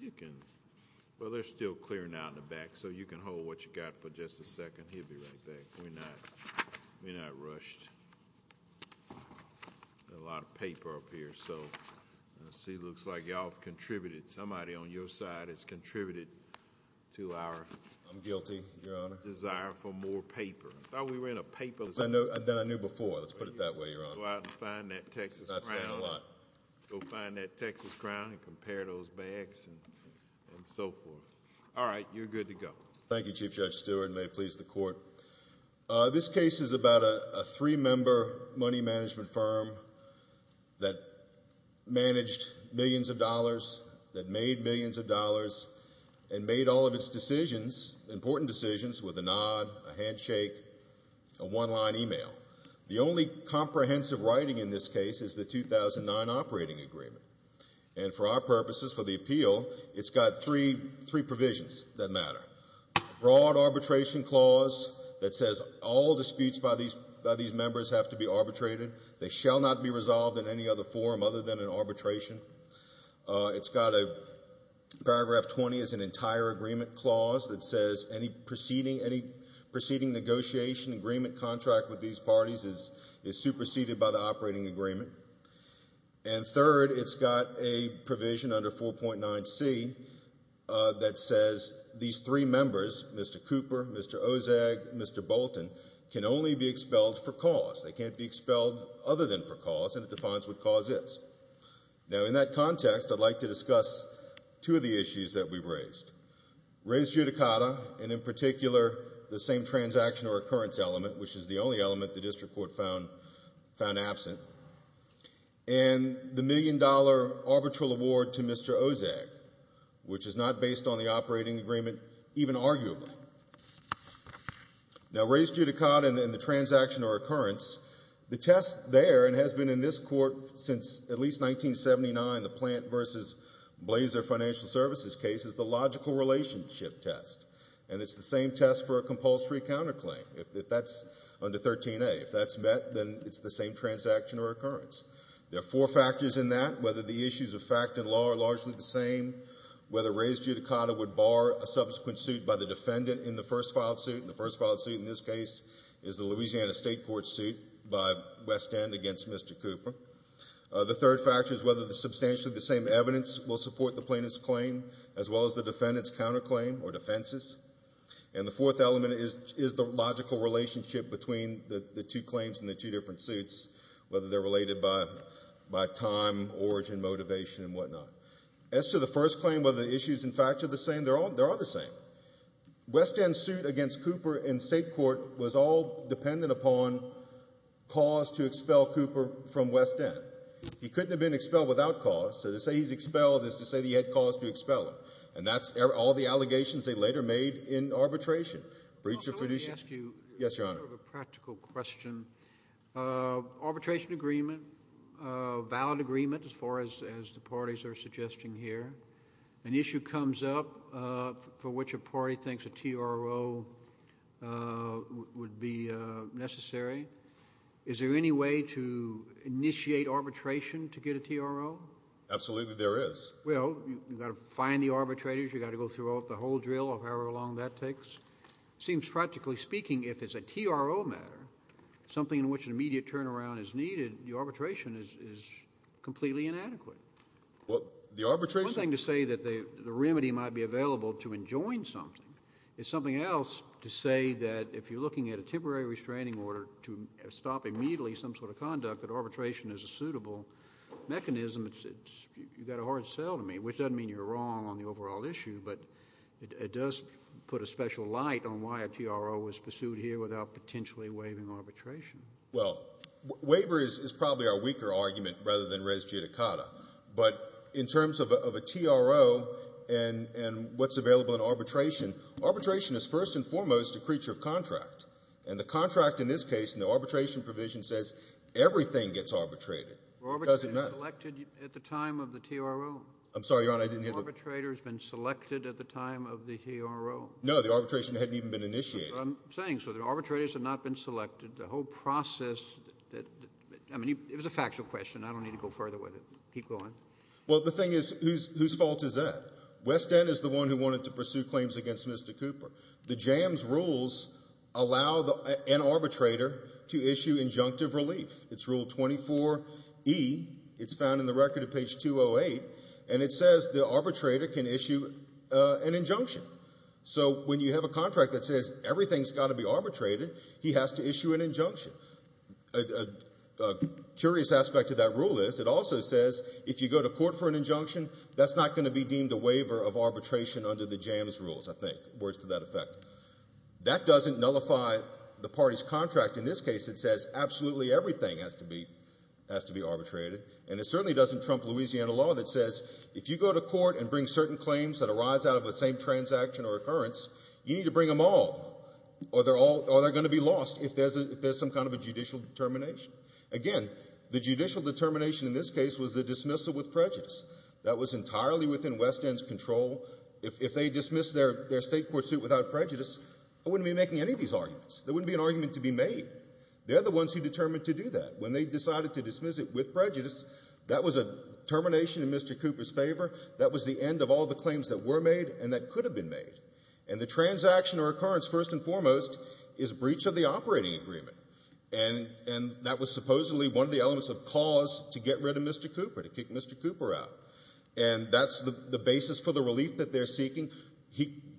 You can, well they're still clearing out in the back so you can hold what you got for just a second. He'll be right back. We're not, we're not rushed. A lot of paper up here. So let's see, looks like y'all contributed. Somebody on your side has contributed to our... I'm guilty, your honor. Desire for more paper. I thought we were in a paperless... Then I knew before, let's put it that way, your honor. Go out and find that Texas Crown. I'm not saying a lot. Go find that Texas Crown and compare those bags and so forth. All right, you're good to go. Thank you, Chief Judge Stewart. May it please the court. This case is about a three-member money management firm that managed millions of dollars, that made millions of dollars, and made all of its decisions, important decisions, with a nod, a handshake, a one-line email. The only comprehensive writing in this case is the 2009 operating agreement. And for our purposes, for the appeal, it's got three provisions that matter. Broad arbitration clause that says all disputes by these members have to be arbitrated. They shall not be resolved in any other form other than an arbitration. It's got a paragraph 20 as an entire agreement clause that says any proceeding negotiation agreement contract with these parties is superseded by the operating agreement. And third, it's got a provision under 4.9C that says these three members, Mr. Cooper, Mr. Ozag, Mr. Bolton, can only be expelled for cause. They can't be expelled other than for cause, and it defines what cause is. Now in that context, I'd like to discuss two of the issues that we've raised. Raised judicata, and in particular, the same transaction or occurrence element, which is the only element the district court found absent, and the million dollar arbitral award to Mr. Ozag, which is not based on the operating agreement even arguably. Now raised judicata and the transaction or occurrence, the test there, and has been in this court since at least 1979, the Plant v. Blazer Financial Services case, is the logical relationship test, and it's the same test for a compulsory counterclaim. If that's under 13A, if that's met, then it's the same transaction or occurrence. There are four factors in that, whether the issues of fact and law are largely the same, whether raised judicata would bar a subsequent suit by the defendant in the first filed suit, and the first filed suit in this case is the Louisiana State Court suit by West End against Mr. Cooper. The third factor is whether substantially the same evidence will support the plaintiff's claim, as well as the defendant's counterclaim or defenses. And the fourth element is the logical relationship between the two claims and the two different suits, whether they're related by time, origin, motivation, and whatnot. As to the first claim, whether the issues in fact are the same, they are the same. West End's suit against Cooper in state court was all dependent upon cause to expel Cooper from West End. He couldn't have been expelled without cause, so to say he's expelled is to say that he had cause to expel him, and that's all the allegations they later made in arbitration. Breach of fiduciary... May I ask you... Yes, Your Honor. ...a practical question. Arbitration agreement, a valid agreement as far as the parties are concerned. The party thinks a TRO would be necessary. Is there any way to initiate arbitration to get a TRO? Absolutely there is. Well, you've got to find the arbitrators. You've got to go through the whole drill, or however long that takes. It seems, practically speaking, if it's a TRO matter, something in which an immediate turnaround is needed, the arbitration is completely inadequate. Well, the arbitration... The remedy might be available to enjoin something. It's something else to say that if you're looking at a temporary restraining order to stop immediately some sort of conduct, that arbitration is a suitable mechanism. You've got a hard sell to me, which doesn't mean you're wrong on the overall issue, but it does put a special light on why a TRO was pursued here without potentially waiving arbitration. Well, waiver is probably our weaker argument rather than res judicata, but in terms of a TRO and what's available in arbitration, arbitration is first and foremost a creature of contract, and the contract in this case, in the arbitration provision, says everything gets arbitrated. It doesn't matter. Arbitrators have been selected at the time of the TRO? I'm sorry, Your Honor, I didn't hear the... Arbitrators have been selected at the time of the TRO? No, the arbitration hadn't even been initiated. I'm saying so. The arbitrators have not been selected. The whole process... It was a factual question. I don't need to go further with it. Keep going. Well, the thing is, whose fault is that? West End is the one who wanted to pursue claims against Mr. Cooper. The JAMS rules allow an arbitrator to issue injunctive relief. It's Rule 24E. It's found in the record at page 208, and it says the arbitrator can issue an injunction. So when you have a contract that says everything's got to be arbitrated, he has to issue an injunction. A curious aspect of that rule is it also says if you go to court for an injunction, that's not going to be deemed a waiver of arbitration under the JAMS rules, I think, words to that effect. That doesn't nullify the party's contract. In this case, it says absolutely everything has to be arbitrated, and it certainly doesn't trump Louisiana law that says if you go to court and bring certain claims that arise out of the same transaction or occurrence, you need to bring them all, or they're going to be lost if there's some kind of a judicial determination. Again, the judicial determination in this case was the dismissal with prejudice. That was entirely within West End's control. If they dismissed their state court suit without prejudice, I wouldn't be making any of these arguments. There wouldn't be an argument to be made. They're the ones who determined to do that. When they decided to dismiss it with prejudice, that was a termination in Mr. Cooper's favor. That was the end of all the claims that were made. And the transaction or occurrence, first and foremost, is breach of the operating agreement. And that was supposedly one of the elements of cause to get rid of Mr. Cooper, to kick Mr. Cooper out. And that's the basis for the relief that they're seeking.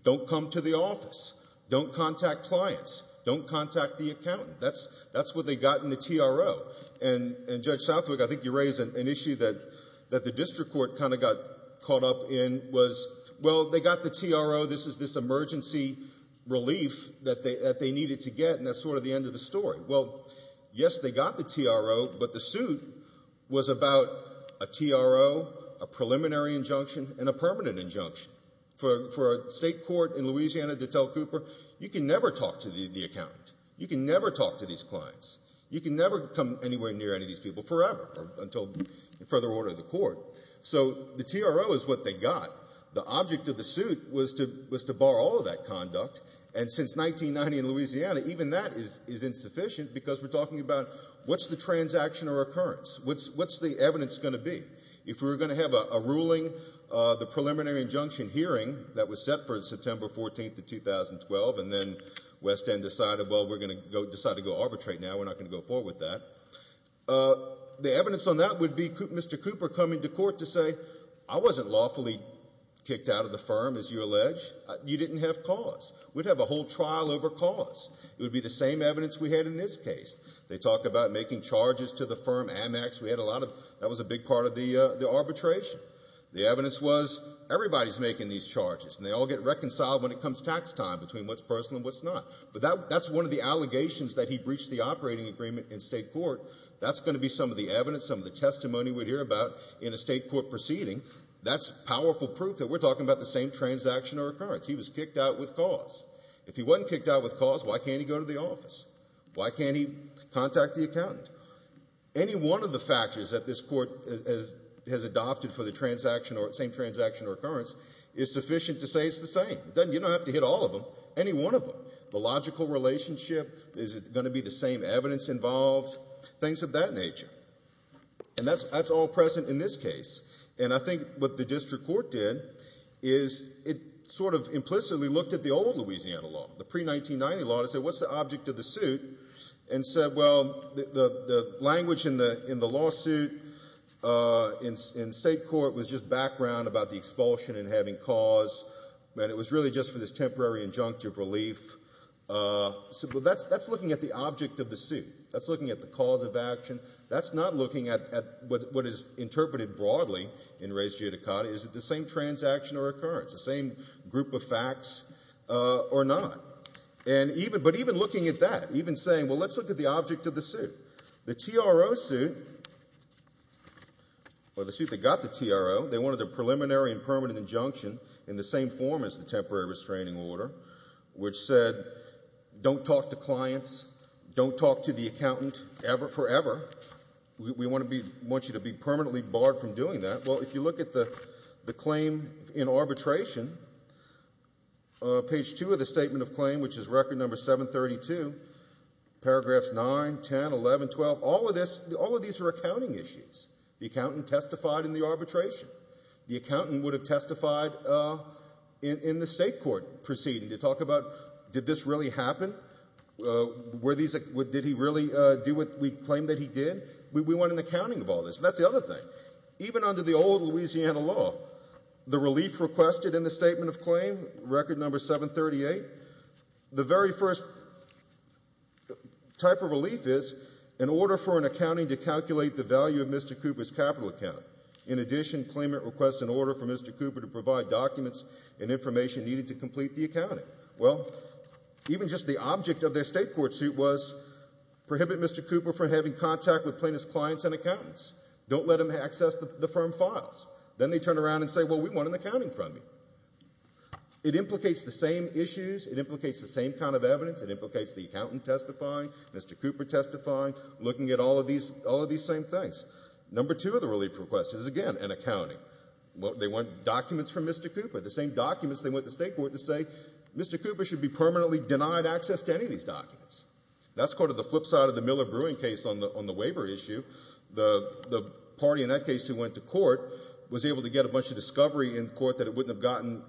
Don't come to the office. Don't contact clients. Don't contact the accountant. That's what they got in the TRO. And, Judge Southwick, I think you raise an issue that the district court kind of got caught up in was, well, they got the TRO. This is this emergency relief that they needed to get, and that's sort of the end of the story. Well, yes, they got the TRO, but the suit was about a TRO, a preliminary injunction, and a permanent injunction. For a state court in Louisiana to tell Cooper, you can never talk to the accountant. You can never talk to these clients. You can never come anywhere near any of these people forever, until further order of the court. So the TRO is what they got. The object of the suit was to bar all of that conduct. And since 1990 in Louisiana, even that is insufficient, because we're talking about, what's the transaction or occurrence? What's the evidence going to be? If we were going to have a ruling, the preliminary injunction hearing that was set for September 14th of 2012, and then West End decided, well, we're going to decide to go arbitrate now. We're not going to go forward with that. The evidence on that would be Mr. Cooper coming to court to say, I wasn't lawfully kicked out of the firm, as you allege. You didn't have cause. We'd have a whole trial over cause. It would be the same evidence we had in this case. They talk about making charges to the firm, Amex. We had a lot of, that was a big part of the arbitration. The evidence was, everybody's making these charges, and they all get reconciled when it comes tax time between what's personal and what's not. But that's one of the allegations that he breached the operating agreement in state court. That's going to be some of the testimony we'd hear about in a state court proceeding. That's powerful proof that we're talking about the same transaction or occurrence. He was kicked out with cause. If he wasn't kicked out with cause, why can't he go to the office? Why can't he contact the accountant? Any one of the factors that this Court has adopted for the same transaction or occurrence is sufficient to say it's the same. You don't have to hit all of them, any one of them. The logical relationship, is it And that's all present in this case. And I think what the district court did, is it sort of implicitly looked at the old Louisiana law, the pre-1990 law, and said, what's the object of the suit? And said, well, the language in the lawsuit in state court was just background about the expulsion and having cause, and it was really just for this temporary injunctive relief. That's looking at the object of the suit. That's looking at the cause of action. That's not looking at what is interpreted broadly in res judicata. Is it the same transaction or occurrence? The same group of facts or not? And even, but even looking at that, even saying, well, let's look at the object of the suit. The TRO suit, or the suit that got the TRO, they wanted a preliminary and permanent injunction in the same form as the temporary restraining order, which said, don't talk to clients, don't talk to the accountant ever, forever. We want to be, want you to be permanently barred from doing that. Well, if you look at the claim in arbitration, page two of the statement of claim, which is record number 732, paragraphs nine, 10, 11, 12, all of this, all of these are accounting issues. The accountant testified in the arbitration. The accountant would have testified in the state court proceeding to talk about, did this really happen? Were these, did he really do what we claimed that he did? We want an accounting of all this. That's the other thing. Even under the old Louisiana law, the relief requested in the statement of claim, record number 738, the very first type of relief is, in order for an accounting to calculate the value of Mr. Cooper's capital account, in addition, claimant requests an order from Mr. Cooper to provide documents and information needed to complete the accounting. Well, even just the object of their state court suit was, prohibit Mr. Cooper from having contact with plaintiff's clients and accountants. Don't let him access the firm files. Then they turn around and say, well, we want an accounting from you. It implicates the same issues. It implicates the same kind of evidence. It looks at all of these same things. Number two of the relief request is, again, an accounting. They want documents from Mr. Cooper. The same documents they want the state court to say, Mr. Cooper should be permanently denied access to any of these documents. That's the flip side of the Miller-Bruin case on the waiver issue. The party in that case who went to court was able to get a bunch of discovery in court that it wouldn't have gotten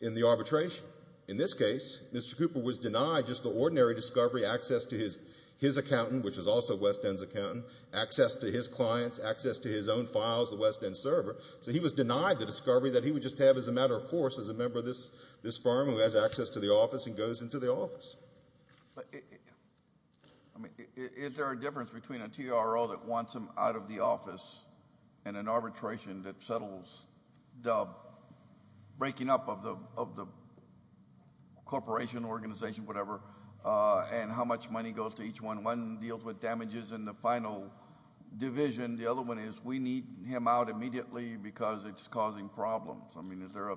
in the arbitration. In this case, Mr. Cooper was denied just the ordinary discovery, access to his accountant, which was also West End's accountant, access to his clients, access to his own files, the West End server. So he was denied the discovery that he would just have as a matter of course as a member of this firm who has access to the office and goes into the office. Is there a difference between a TRO that wants him out of the office and an arbitration that settles the breaking up of the corporation, organization, whatever, and how much money goes to each one? One deals with damages in the final division. The other one is, we need him out immediately because it's causing problems. I mean, is there a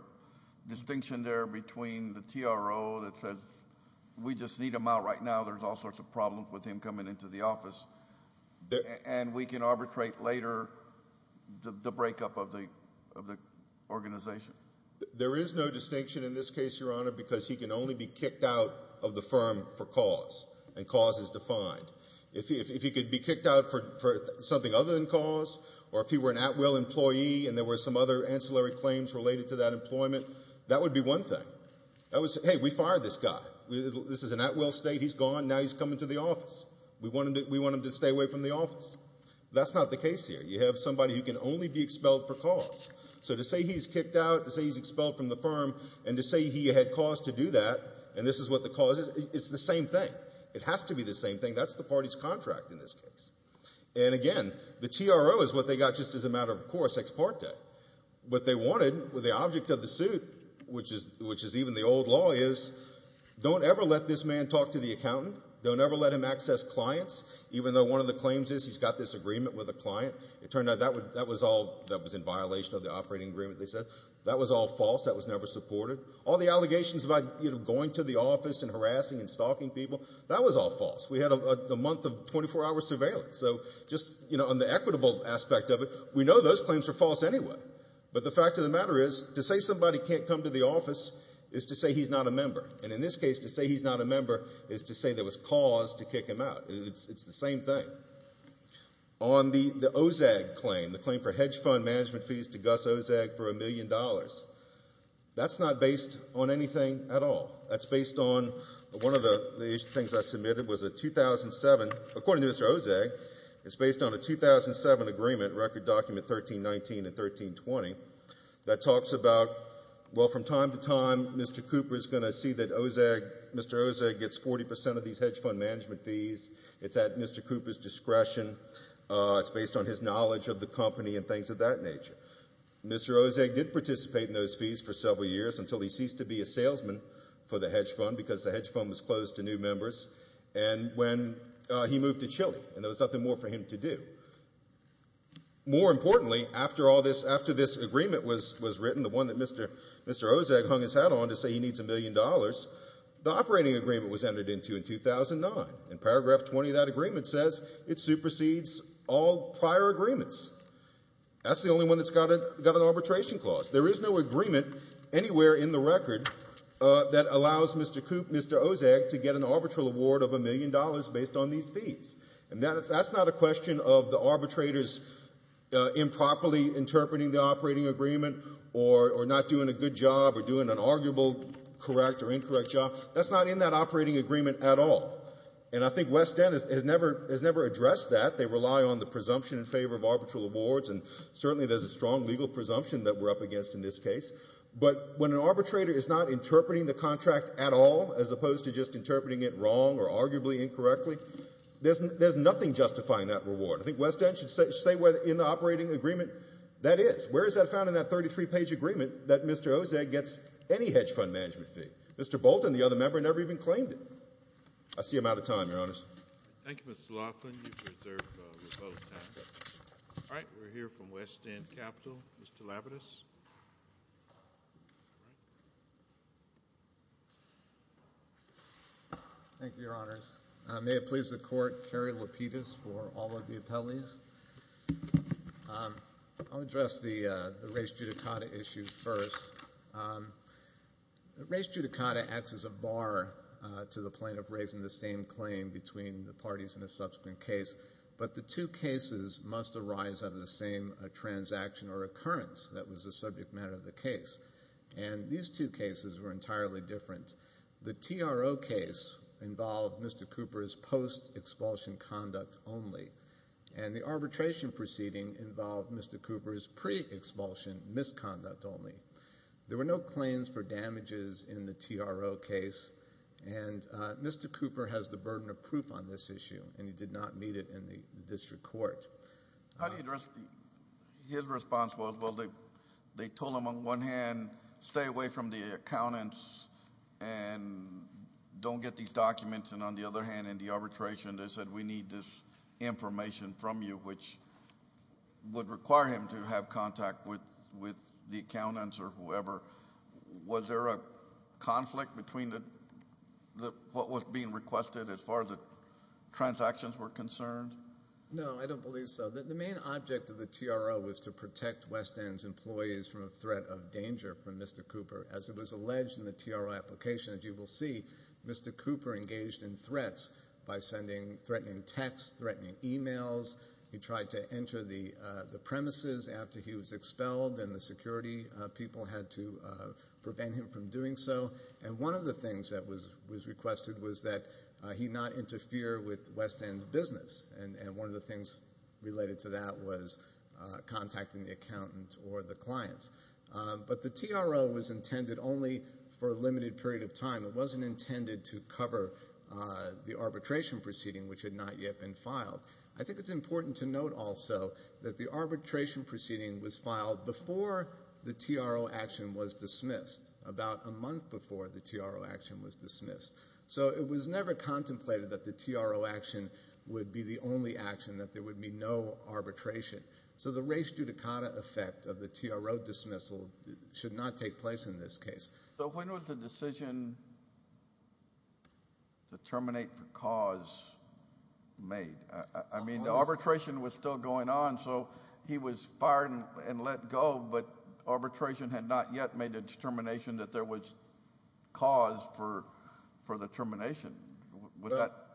distinction there between the TRO that says, we just need him out right now, there's all sorts of problems with him coming into the office, and we can arbitrate later the breakup of the organization? There is no distinction in this case, Your Honor, because he can only be kicked out of the firm for cause, and cause is defined. If he could be kicked out for something other than cause, or if he were an Atwill employee and there were some other ancillary claims related to that employment, that would be one thing. That would say, hey, we fired this guy. This is an Atwill state. He's gone. Now he's coming to the office. We want him to stay away from the office. That's not the case here. You have somebody who can only be expelled for cause. So to say he's kicked out, to say he's expelled from the firm, and to say he had cause to do that, and this is what the cause is, it's the same thing. It has to be the same thing. That's the party's contract in this case. And again, the TRO is what they got just as a matter of course, what they wanted with the object of the suit, which is even the old law, is don't ever let this man talk to the accountant. Don't ever let him access clients, even though one of the claims is he's got this agreement with a client. It turned out that was all that was in violation of the operating agreement, they said. That was all false. That was never supported. All the allegations about going to the office and harassing and stalking people, that was all false. We had a month of 24-hour surveillance. So just on the equitable aspect of it, we know those claims are false anyway. But the fact of the matter is, to say somebody can't come to the office is to say he's not a member. And in this case, to say he's not a member is to say there was cause to kick him out. It's the same thing. On the Ozag claim, the claim for hedge fund management fees to Gus Ozag for a million dollars, that's not based on anything at all. That's based on one of the things I submitted was a 2007, according to Mr. Ozag, it's based on a 2007 agreement, Record Document 1319 and 1320, that talks about, well, from time to time, Mr. Cooper is going to see that Mr. Ozag gets 40 percent of these hedge fund management fees. It's at Mr. Cooper's discretion. It's based on his knowledge of the company and things of that nature. Mr. Ozag did participate in those fees for several years until he ceased to be a salesman for the hedge fund because the hedge fund was closed to new members. And when he moved to Chile, and there was nothing more for him to do. More importantly, after all this, after this agreement was written, the one that Mr. Ozag hung his hat on to say he needs a million dollars, the operating agreement was entered into in 2009. In paragraph 20 of that agreement says it supersedes all prior agreements. That's the only one that's got an arbitration clause. There is no agreement anywhere in the record that allows Mr. Cooper, Mr. Ozag to get an arbitral award of a million dollars based on these fees. And that's not a question of the arbitrators improperly interpreting the operating agreement or not doing a good job or doing an arguable correct or incorrect job. That's not in that operating agreement at all. And I think West End has never addressed that. They rely on the presumption in favor of arbitral awards, and certainly there's a strong legal presumption that we're up against in this case. But when an arbitrator is not interpreting the contract at all, as opposed to just interpreting it wrong or arguably incorrectly, there's nothing justifying that reward. I think West End should say whether in the operating agreement that is. Where is that found in that 33-page agreement that Mr. Ozag gets any hedge fund management fee? Mr. Bolton, the other member, never even claimed it. I see I'm out of time, Your Honors. Thank you, Mr. Laughlin. All right, we're here from West End Capital. Mr. Labidus. Thank you, Your Honors. May it please the Court, Kerry Lapidus for all of the appellees. I'll address the race judicata issue first. Race judicata acts as a bar to the plaintiff raising the same claim between the parties in a subsequent case, but the two cases must arise out of the same transaction or occurrence that was the subject matter of the case. And these two cases were the TRO case involved Mr. Cooper's post-expulsion conduct only, and the arbitration proceeding involved Mr. Cooper's pre-expulsion misconduct only. There were no claims for damages in the TRO case, and Mr. Cooper has the burden of proof on this issue, and he did not meet it in the district court. How do you address his response? Well, they told him on one hand, stay away from the accountants and don't get these documents, and on the other hand, in the arbitration, they said we need this information from you, which would require him to have contact with the accountants or whoever. Was there a conflict between what was being requested as far as the transactions were concerned? No, I don't believe so. The main object of the TRO was to protect West End's employees from a threat of danger from Mr. Cooper. As it was alleged in the TRO application, as you will see, Mr. Cooper engaged in threats by threatening texts, threatening emails. He tried to enter the premises after he was expelled, and the security people had to prevent him from doing so. And one of the things that was requested was that he not interfere with West End's business, and one of the things related to that was contacting the accountants or the clients. But the TRO was intended only for a limited period of time. It wasn't intended to cover the arbitration proceeding, which had not yet been filed. I think it's important to note also that the arbitration proceeding was filed before the TRO action was dismissed, about a month before the TRO action was dismissed. So it was never contemplated that the TRO action would be the only action, that there would be no arbitration. So the res judicata effect of the TRO dismissal should not take place in this case. So when was the decision to terminate for cause made? I mean, the arbitration was still going on, so he was fired and let go, but arbitration had not yet made a determination that there was cause for the termination. But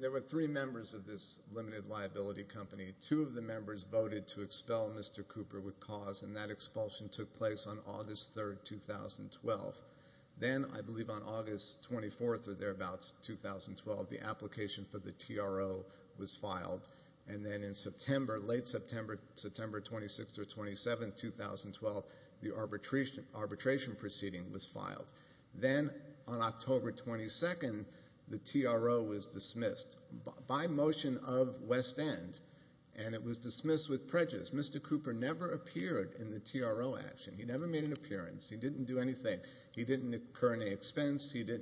there were three members of this limited liability company. Two of the members voted to expel Mr. Cooper with cause, and that expulsion took place on August 3, 2012. Then, I believe on August 24 or thereabouts, 2012, the application for the TRO was filed. And then in September, late September, September 26 or 27, 2012, the arbitration proceeding was dismissed. The TRO was dismissed by motion of West End, and it was dismissed with prejudice. Mr. Cooper never appeared in the TRO action. He never made an appearance. He didn't do anything. He didn't incur any expense. There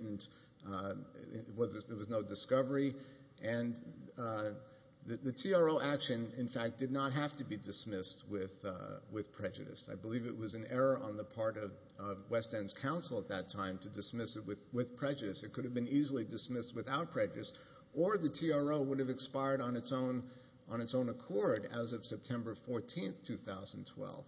was no discovery. And the TRO action, in fact, did not have to be dismissed with prejudice. I believe it was an error on the part of West End's counsel at that time to dismiss it with prejudice. It could have been easily dismissed without prejudice, or the TRO would have expired on its own accord as of September 14, 2012.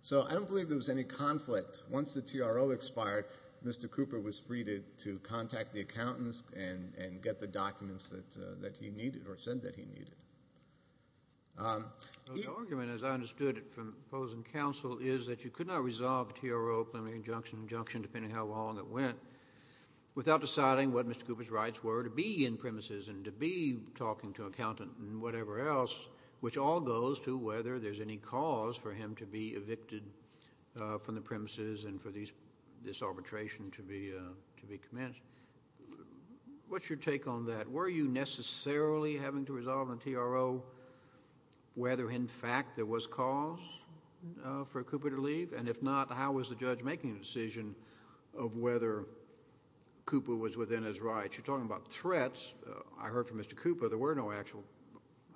So I don't believe there was any conflict. Once the TRO expired, Mr. Cooper was freed to contact the accountants and get the documents that he needed or said that he needed. The argument, as I understood it from opposing counsel, is that you could not resolve TRO preliminary injunction and injunction, depending on how long it went, without deciding what Mr. Cooper's rights were to be in premises and to be talking to an accountant and whatever else, which all goes to whether there's any cause for him to be evicted from the premises and for this arbitration to be commenced. What's your take on that? Were you necessarily having to resolve on TRO whether, in fact, there was cause for Cooper to leave? And if not, how was the judge making a decision of whether Cooper was within his rights? You're talking about threats. I heard from Mr. Cooper there were no actual,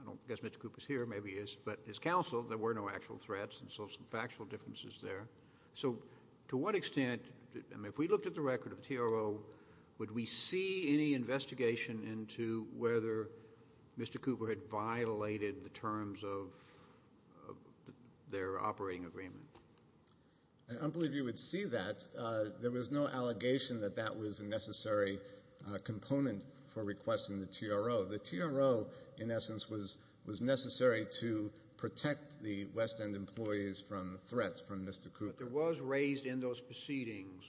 I don't guess Mr. Cooper's here, maybe he is, but his counsel, there were no actual threats and so some factual differences there. So to what extent, and if we looked at the record of TRO, would we see any investigation into whether Mr. Cooper had violated the terms of their operating agreement? I don't believe you would see that. There was no allegation that that was a necessary component for requesting the TRO. The TRO, in essence, was necessary to protect the West End employees from threats from Mr. Cooper. But there was raised in those proceedings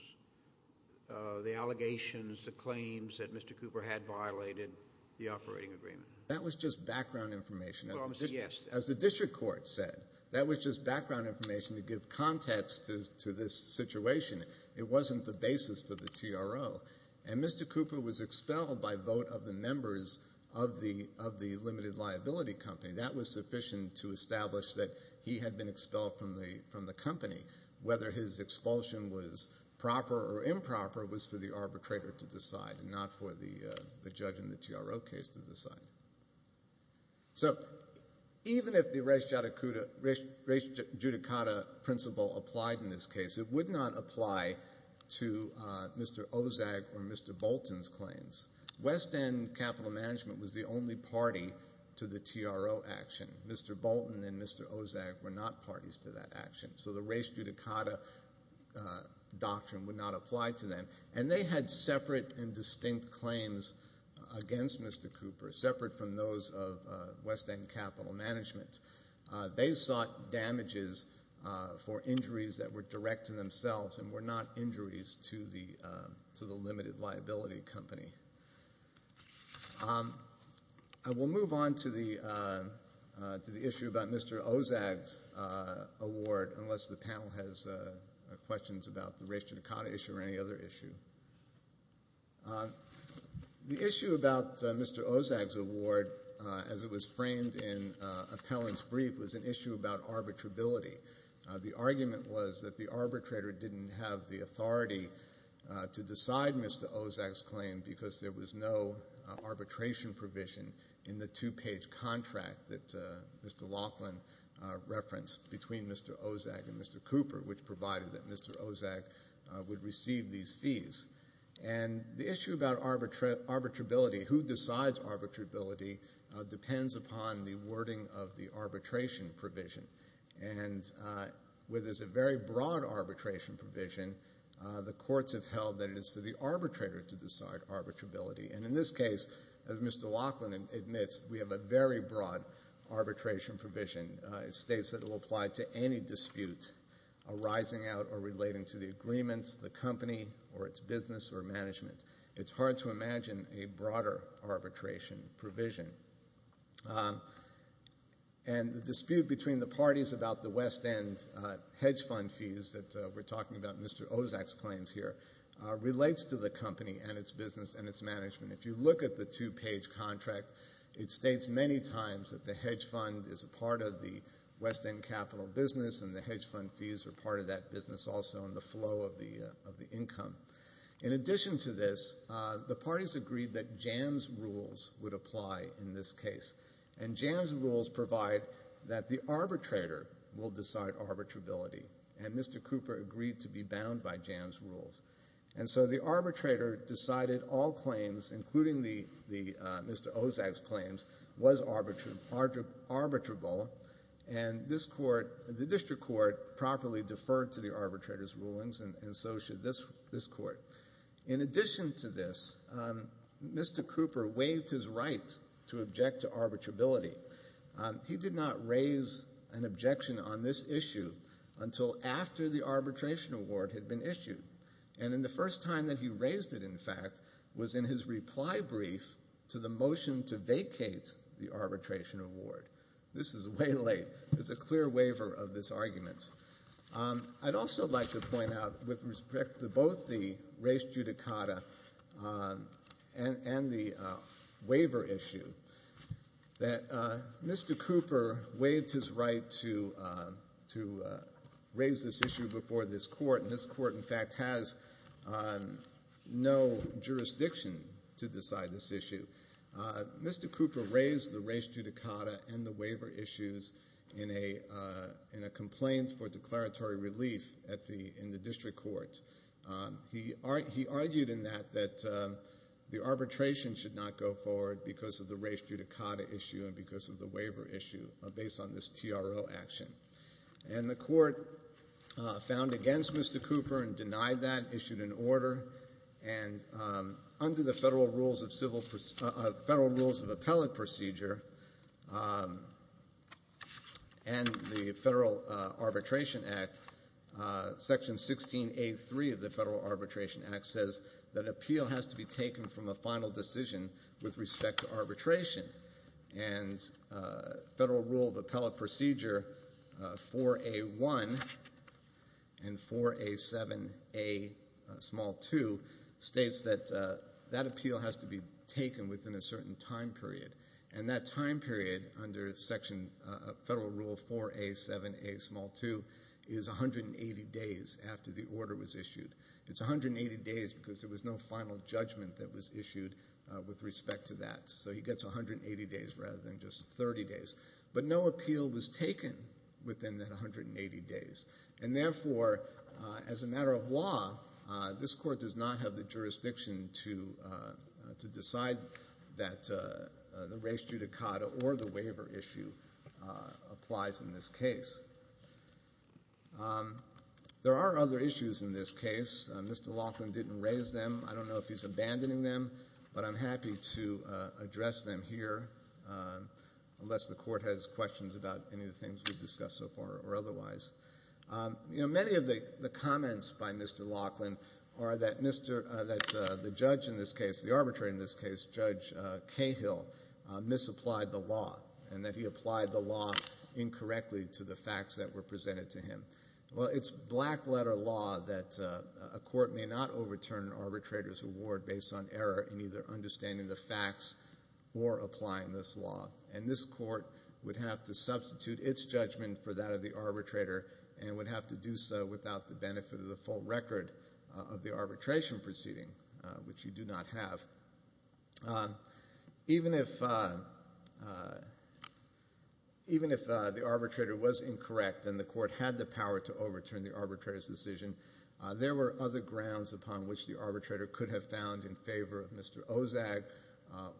the allegations, the claims that Mr. Cooper had violated the operating agreement. That was just background information. Yes. As the district court said, that was just background information to give context to this situation. It wasn't the basis for the TRO. And Mr. Cooper was expelled by vote of the members of the limited liability company. That was sufficient to establish that he had been expelled from the company. Whether his expulsion was proper or improper was for the arbitrator to decide and not for the judge in the TRO case to decide. So even if the res judicata principle applied in this case, it would not apply to Mr. Ozag or Mr. Bolton's claims. West End Capital Management was the only party to the TRO action. Mr. Bolton and Mr. Ozag were not parties to that action. So the res judicata doctrine would not apply to them. And they had separate and distinct claims against Mr. Cooper, separate from those of West End Capital Management. They sought damages for injuries that were direct to themselves and were not I will move on to the issue about Mr. Ozag's award, unless the panel has questions about the res judicata issue or any other issue. The issue about Mr. Ozag's award, as it was framed in Appellant's brief, was an issue about arbitrability. The argument was that the arbitrator didn't have the authority to decide Mr. Ozag's arbitration provision in the two-page contract that Mr. Laughlin referenced between Mr. Ozag and Mr. Cooper, which provided that Mr. Ozag would receive these fees. And the issue about arbitrability, who decides arbitrability, depends upon the wording of the arbitration provision. And where there's a very broad arbitration provision, the courts have held that it is for the arbitrator to decide arbitrability. And in this case, as Mr. Laughlin admits, we have a very broad arbitration provision. It states that it will apply to any dispute arising out or relating to the agreements, the company, or its business or management. It's hard to imagine a broader arbitration provision. And the dispute between the parties about the West End hedge fund fees that we're talking about Mr. Ozag's claims here, relates to the company and its business and its management. If you look at the two-page contract, it states many times that the hedge fund is a part of the West End capital business and the hedge fund fees are part of that business also in the flow of the income. In addition to this, the parties agreed that JAMS rules would apply in this case. Mr. Cooper agreed to be bound by JAMS rules. And so the arbitrator decided all claims, including Mr. Ozag's claims, was arbitrable. And this court, the district court, properly deferred to the arbitrator's rulings and so should this court. In addition to this, Mr. Cooper waived his right to object to arbitrability. He did not raise an objection on this issue until after the arbitration award had been issued. And in the first time that he raised it, in fact, was in his reply brief to the motion to vacate the arbitration award. This is way late. It's a clear waiver of this argument. I'd also like to point out with respect to both the race judicata and the waiver issue that Mr. Cooper waived his right to raise this issue before this court. And this court, in fact, has no jurisdiction to decide this issue. Mr. Cooper raised the race judicata and the waiver issues in a complaint for declaratory relief in the district court. He argued in that that arbitration should not go forward because of the race judicata issue and because of the waiver issue based on this TRO action. And the court found against Mr. Cooper and denied that, issued an order. And under the Federal Rules of Appellate Procedure and the Federal Arbitration Act, Section 16A.3 of the Federal Arbitration Act says that appeal has to be taken from a final decision with respect to arbitration. And Federal Rule of Appellate Procedure 4A.1 and 4A.7a small 2 states that that appeal has to be taken within a certain time period. And that time period, under Federal Rule 4A.7a small 2, is 180 days after the order was issued. It's 180 days because there was no final judgment that was issued with respect to that. So he gets 180 days rather than just 30 days. But no appeal was taken within that 180 days. And therefore, as a matter of law, this court does not have the jurisdiction to decide that the race judicata or the waiver issue applies in this case. There are other issues in this case. Mr. Laughlin didn't raise them. I don't know if he's abandoning them, but I'm happy to address them here unless the court has questions about any of the things we've discussed so far or otherwise. You know, many of the comments by Mr. Laughlin are that the judge in this case, the arbitrator in this case, Judge Cahill, misapplied the law and that he applied the law incorrectly to the facts that were presented to him. Well, it's black letter law that a court may not overturn an arbitrator's award based on error in either understanding the facts or applying this law. And this court would have to substitute its record of the arbitration proceeding, which you do not have. Even if the arbitrator was incorrect and the court had the power to overturn the arbitrator's decision, there were other grounds upon which the arbitrator could have found in favor of Mr. Ozag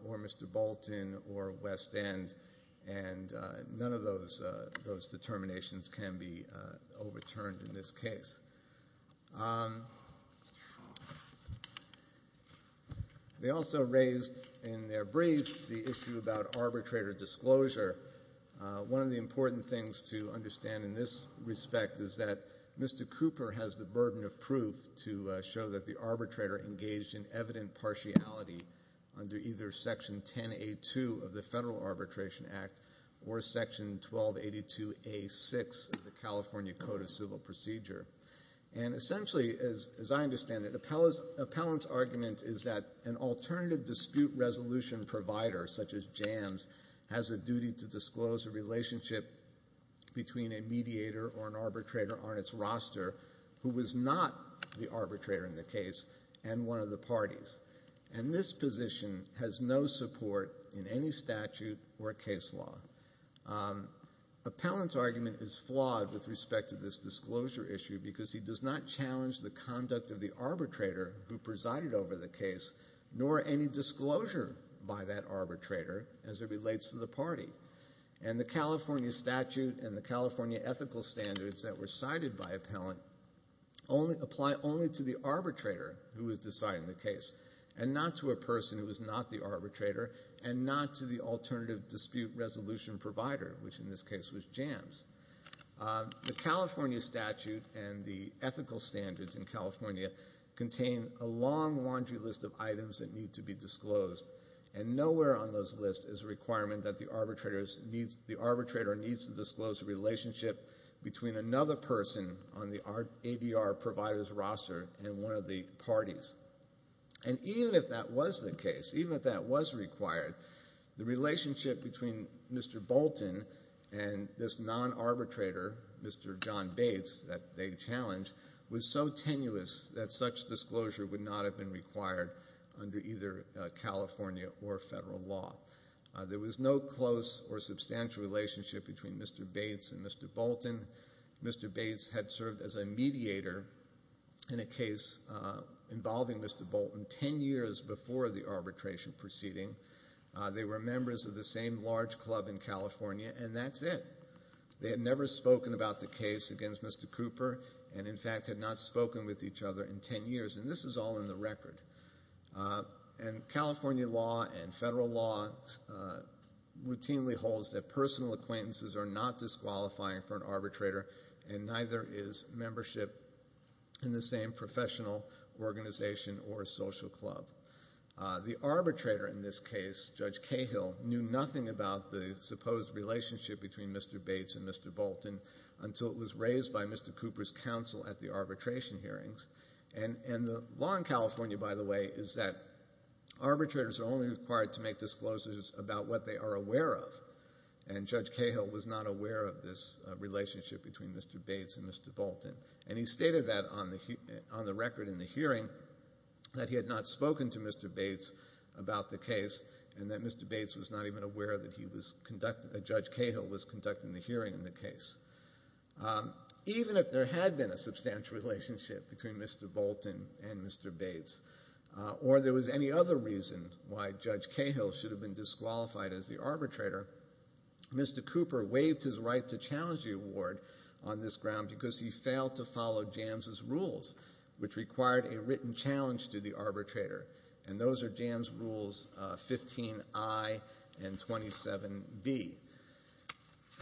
or Mr. Bolton or West End. And none of those determinations can be overturned in this case. They also raised in their brief the issue about arbitrator disclosure. One of the important things to understand in this respect is that Mr. Cooper has the burden of proof to show that the Section 1282A.6 of the California Code of Civil Procedure. And essentially, as I understand it, an appellant's argument is that an alternative dispute resolution provider, such as JAMS, has a duty to disclose a relationship between a mediator or an arbitrator on its roster who was not the arbitrator in the case and one of the parties. And this position has no support in any statute or case law. Appellant's argument is flawed with respect to this disclosure issue because he does not challenge the conduct of the arbitrator who presided over the case, nor any disclosure by that arbitrator as it relates to the party. And the California statute and the California ethical standards that were cited by appellant apply only to the arbitrator who is deciding the case and not to a person who is not the arbitrator and not to the alternative dispute resolution provider, which in this case was JAMS. The California statute and the ethical standards in California contain a long laundry list of items that need to be disclosed. And nowhere on those lists is a requirement that the arbitrator needs to disclose a relationship between another person on the ADR provider's roster and one of the parties. And even if that was the case, even if that was required, the relationship between Mr. Bolton and this non-arbitrator, Mr. John Bates, that they challenged, was so tenuous that such disclosure would not have been required under either California or federal law. There was no close or substantial relationship between Mr. Bates and Mr. Bolton. Mr. Bates had served as a mediator in a case involving Mr. Bolton ten years before the arbitration proceeding. They were members of the same large club in California, and that's it. They had never spoken about the case against Mr. Cooper and, in fact, had not spoken with each other in ten years. And this is all in the record. And California law and federal law routinely holds that personal acquaintances are not disqualifying for an arbitrator, and neither is membership in the same professional organization or social club. The arbitrator in this case, Judge Cahill, knew nothing about the supposed relationship between Mr. Bates and Mr. Bolton until it was raised by Mr. Cooper's counsel at the arbitration hearings. And the law in California, by the way, is that arbitrators are only required to make disclosures about what they are aware of, and Judge Cahill was not aware of this relationship between Mr. Bates and Mr. Bolton. And he stated that on the record in the hearing, that he had not spoken to Mr. Bates about the case and that Mr. Bates was not even aware that Judge Cahill was conducting the hearing in the case. Even if there had been a substantial relationship between Mr. Bolton and Mr. Bates or there was any other reason why Judge Cahill should have been disqualified as the arbitrator, Mr. Cooper waived his right to challenge the award on this ground because he failed to follow Jams' rules, which required a written challenge to the arbitrator. And those are Jams' rules 15I and 27B.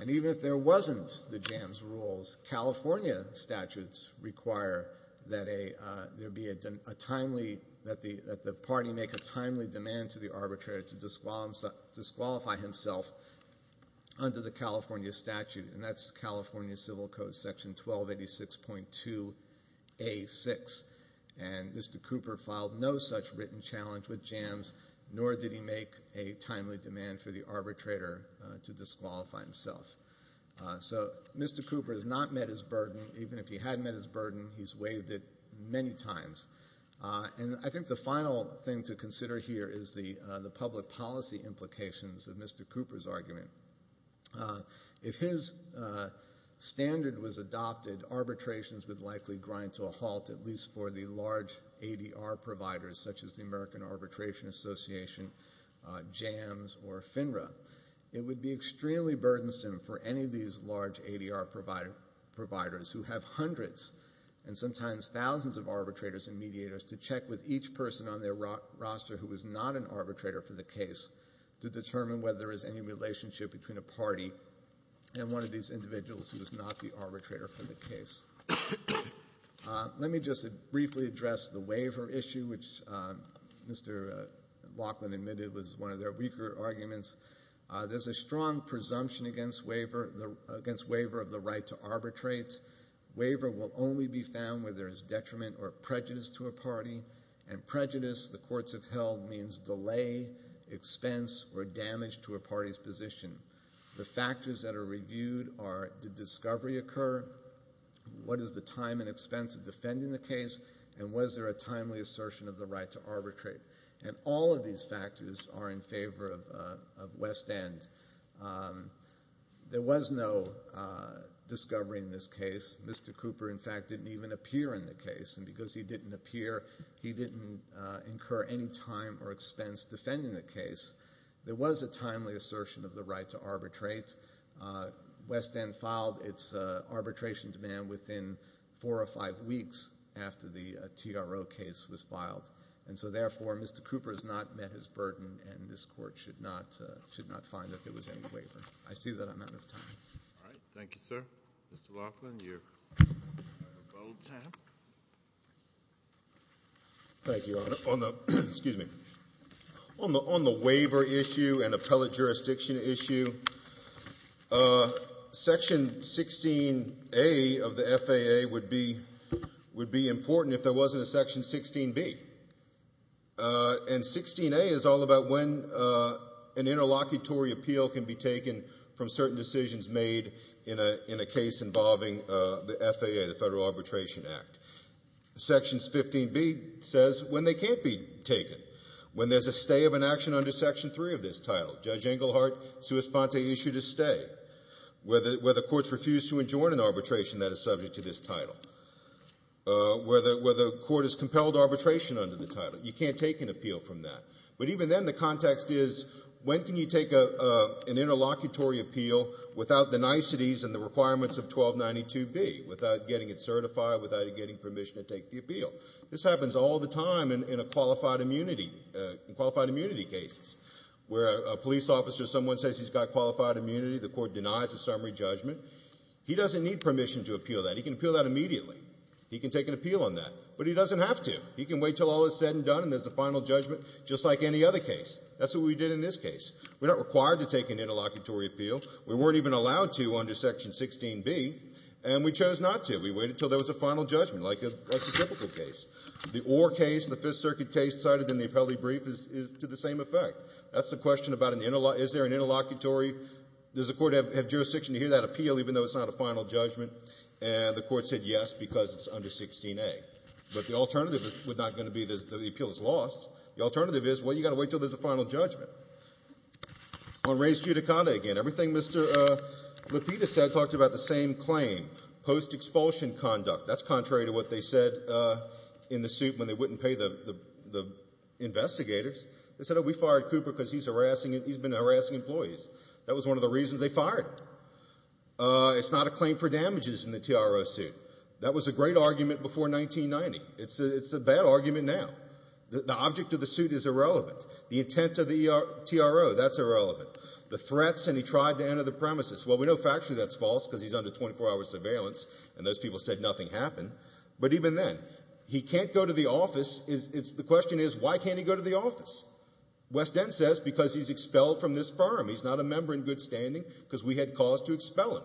And even if there wasn't the Jams' rules, California statutes require that there be a timely, that the party make a timely demand to the arbitrator to disqualify himself under the California statute, and that's California Civil Code section 1286.2a6. And Mr. Cooper did not follow the Jams', nor did he make a timely demand for the arbitrator to disqualify himself. So Mr. Cooper has not met his burden. Even if he had met his burden, he's waived it many times. And I think the final thing to consider here is the public policy implications of Mr. Cooper's argument. If his standard was adopted, arbitrations would likely grind to a halt, at least for the large ADR providers such as the American Arbitration Association, Jams, or FINRA. It would be extremely burdensome for any of these large ADR providers who have hundreds and sometimes thousands of arbitrators and mediators to check with each person on their roster who is not an arbitrator for the case to determine whether there is any relationship between a party and one of these parties. To address the waiver issue, which Mr. Laughlin admitted was one of their weaker arguments, there's a strong presumption against waiver of the right to arbitrate. Waiver will only be found where there is detriment or prejudice to a party, and prejudice, the courts have held, means delay, expense, or damage to a party's position. The factors that are reviewed are did discovery occur, what is the time and expense of defending the case, and was there a timely assertion of the right to arbitrate. And all of these factors are in favor of West End. There was no discovery in this case. Mr. Cooper, in fact, didn't even appear in the case, and because he didn't appear, he didn't incur any time or expense defending the case. There was a timely assertion of the right to arbitrate. West End filed its arbitration demand within four or five weeks after the TRO case was filed. And so, therefore, Mr. Cooper has not met his burden, and this court should not find that there was any waiver. I see that I'm out of time. All right. Thank you, sir. Mr. Laughlin, you are about time. Thank you, Your Honor. On the waiver issue and appellate jurisdiction issue, Section 16A of the FAA would be important if there wasn't a Section 16B. And 16A is all about when an interlocutory appeal can be taken from certain decisions made in a case involving the FAA, the Federal Arbitration Act. Sections 15B says when they can't be taken, when there's a stay of an action under Section 3 of this title. Judge Englehart sua sponte issued a stay where the courts refused to adjoin an arbitration that is subject to this title, where the court has compelled arbitration under the title. You can't take an appeal from that. But even then, the context is, when can you take an interlocutory appeal without the niceties and the requirements of 1292B, without getting it certified, without it getting permission to take the appeal? This happens all the time in qualified immunity cases, where a police officer, someone says he's got qualified immunity, the court denies a summary judgment. He doesn't need permission to appeal that. He can appeal that immediately. He can take an appeal on that. But he doesn't have to. He can wait until all is said and done and there's a final judgment, just like any other case. That's what we did in this case. We're not required to take an interlocutory appeal. We weren't even allowed to under Section 16B, and we chose not to. We waited until there was a final judgment, like a typical case. The Orr case, the Fifth Circuit case cited in the appellate brief is to the same effect. That's the question about an interlocutory – is there an interlocutory – does the court have jurisdiction to hear that appeal even though there's not a final judgment? And the court said yes, because it's under 16A. But the alternative is not going to be that the appeal is lost. The alternative is, well, you've got to wait until there's a final judgment. On res judicata again, everything Mr. Lapita said talked about the same claim, post-expulsion conduct. That's contrary to what they said in the suit when they wouldn't pay the investigators. They said, oh, we fired Cooper because he's been harassing employees. That was one of the reasons they fired him. It's not a claim for damages in the TRO suit. That was a great argument before 1990. It's a bad argument now. The object of the suit is irrelevant. The intent of the TRO, that's irrelevant. The threats, and he tried to enter the premises. Well, we know factually that's false, because he's under 24-hour surveillance, and those people said nothing happened. But even then, he can't go to the office. The question is, why can't he go to the office? West End says, because he's expelled from this firm. He's not a member in good standing, because we had cause to expel him.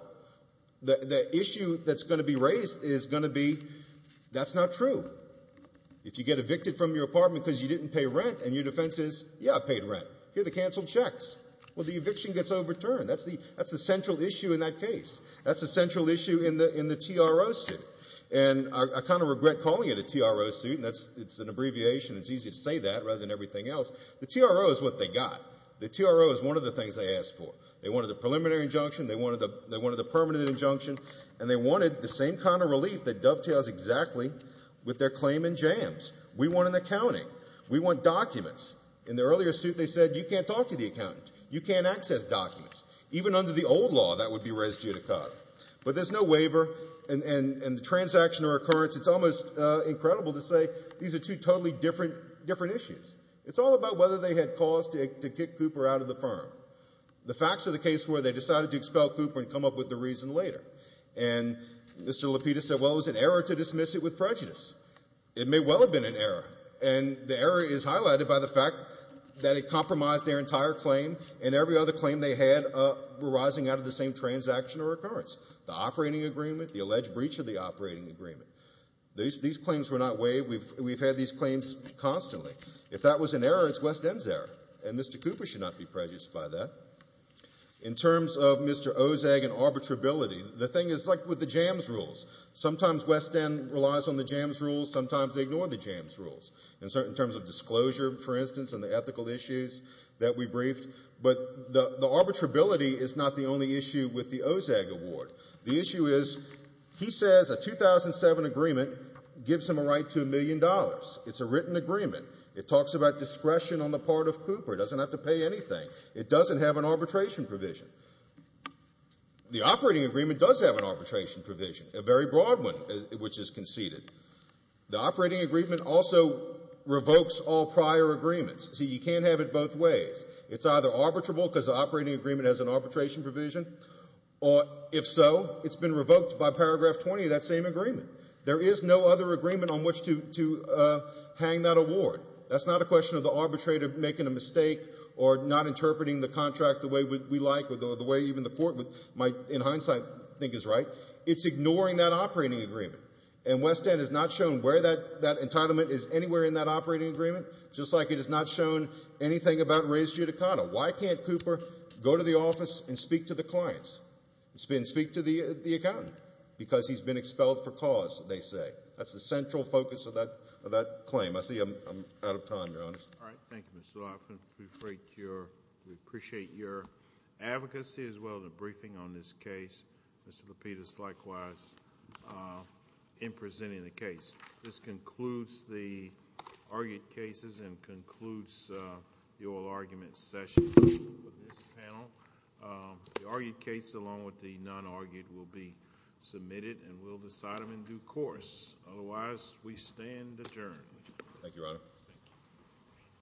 The issue that's going to be raised is going to be, that's not true. If you get evicted from your apartment because you didn't pay rent, and your defense is, yeah, I paid rent. Here are the canceled checks. Well, the eviction gets overturned. That's the central issue in that case. That's the central issue in the TRO suit. I kind of regret calling it a TRO suit. It's an abbreviation. It's easy to say that, rather than everything else. The TRO is what they got. The TRO is one of the things they asked for. They wanted a preliminary injunction. They wanted a permanent injunction, and they wanted the same kind of relief that dovetails exactly with their claim in jams. We want an accounting. We want documents. In the earlier suit, they said, you can't talk to the accountant. You can't access documents. Even under the old law, that would be res judicata. But there's no waiver, and the transaction or occurrence, it's almost incredible to say these are two totally different issues. It's all about whether they had cause to kick Cooper out of the firm. The facts of the case were they decided to expel Cooper and come up with the reason later. And Mr. Lapidus said, well, it was an error to dismiss it with prejudice. It may well have been an error, and the error is highlighted by the fact that it compromised their entire claim, and every other claim they had were rising out of the same transaction or occurrence. The operating agreement, the alleged breach of the operating agreement. These claims were not waived. We've had these claims constantly. If that was an error, it's West End's error, and Mr. Cooper should not be prejudiced by that. In terms of Mr. Ozag and arbitrability, the thing is like with the jams rules. Sometimes West End relies on the jams rules. Sometimes they ignore the jams rules. In terms of disclosure, for instance, and the ethical issues that we briefed. But the he says a 2007 agreement gives him a right to a million dollars. It's a written agreement. It talks about discretion on the part of Cooper. It doesn't have to pay anything. It doesn't have an arbitration provision. The operating agreement does have an arbitration provision, a very broad one, which is conceded. The operating agreement also revokes all prior agreements. See, you can't have it both ways. It's either arbitrable because the operating agreement has an arbitration provision, or if so, it's been revoked by paragraph 20 of that same agreement. There is no other agreement on which to hang that award. That's not a question of the arbitrator making a mistake or not interpreting the contract the way we like or the way even the court might in hindsight think is right. It's ignoring that operating agreement. And West End has not shown where that entitlement is anywhere in that operating agreement, just like it has not shown anything about res judicata. Why can't Cooper go to the office and speak to the clients and speak to the accountant? Because he's been expelled for cause, they say. That's the central focus of that claim. I see I'm out of time, Your Honor. All right. Thank you, Mr. Lofgren. We appreciate your advocacy as well, the briefing on this case. Mr. Lapidus, likewise, in presenting the case. This concludes the argued cases and concludes the oral argument session with this panel. The argued case along with the non-argued will be submitted, and we'll decide them in due course. Otherwise, we stand adjourned. Thank you, Your Honor.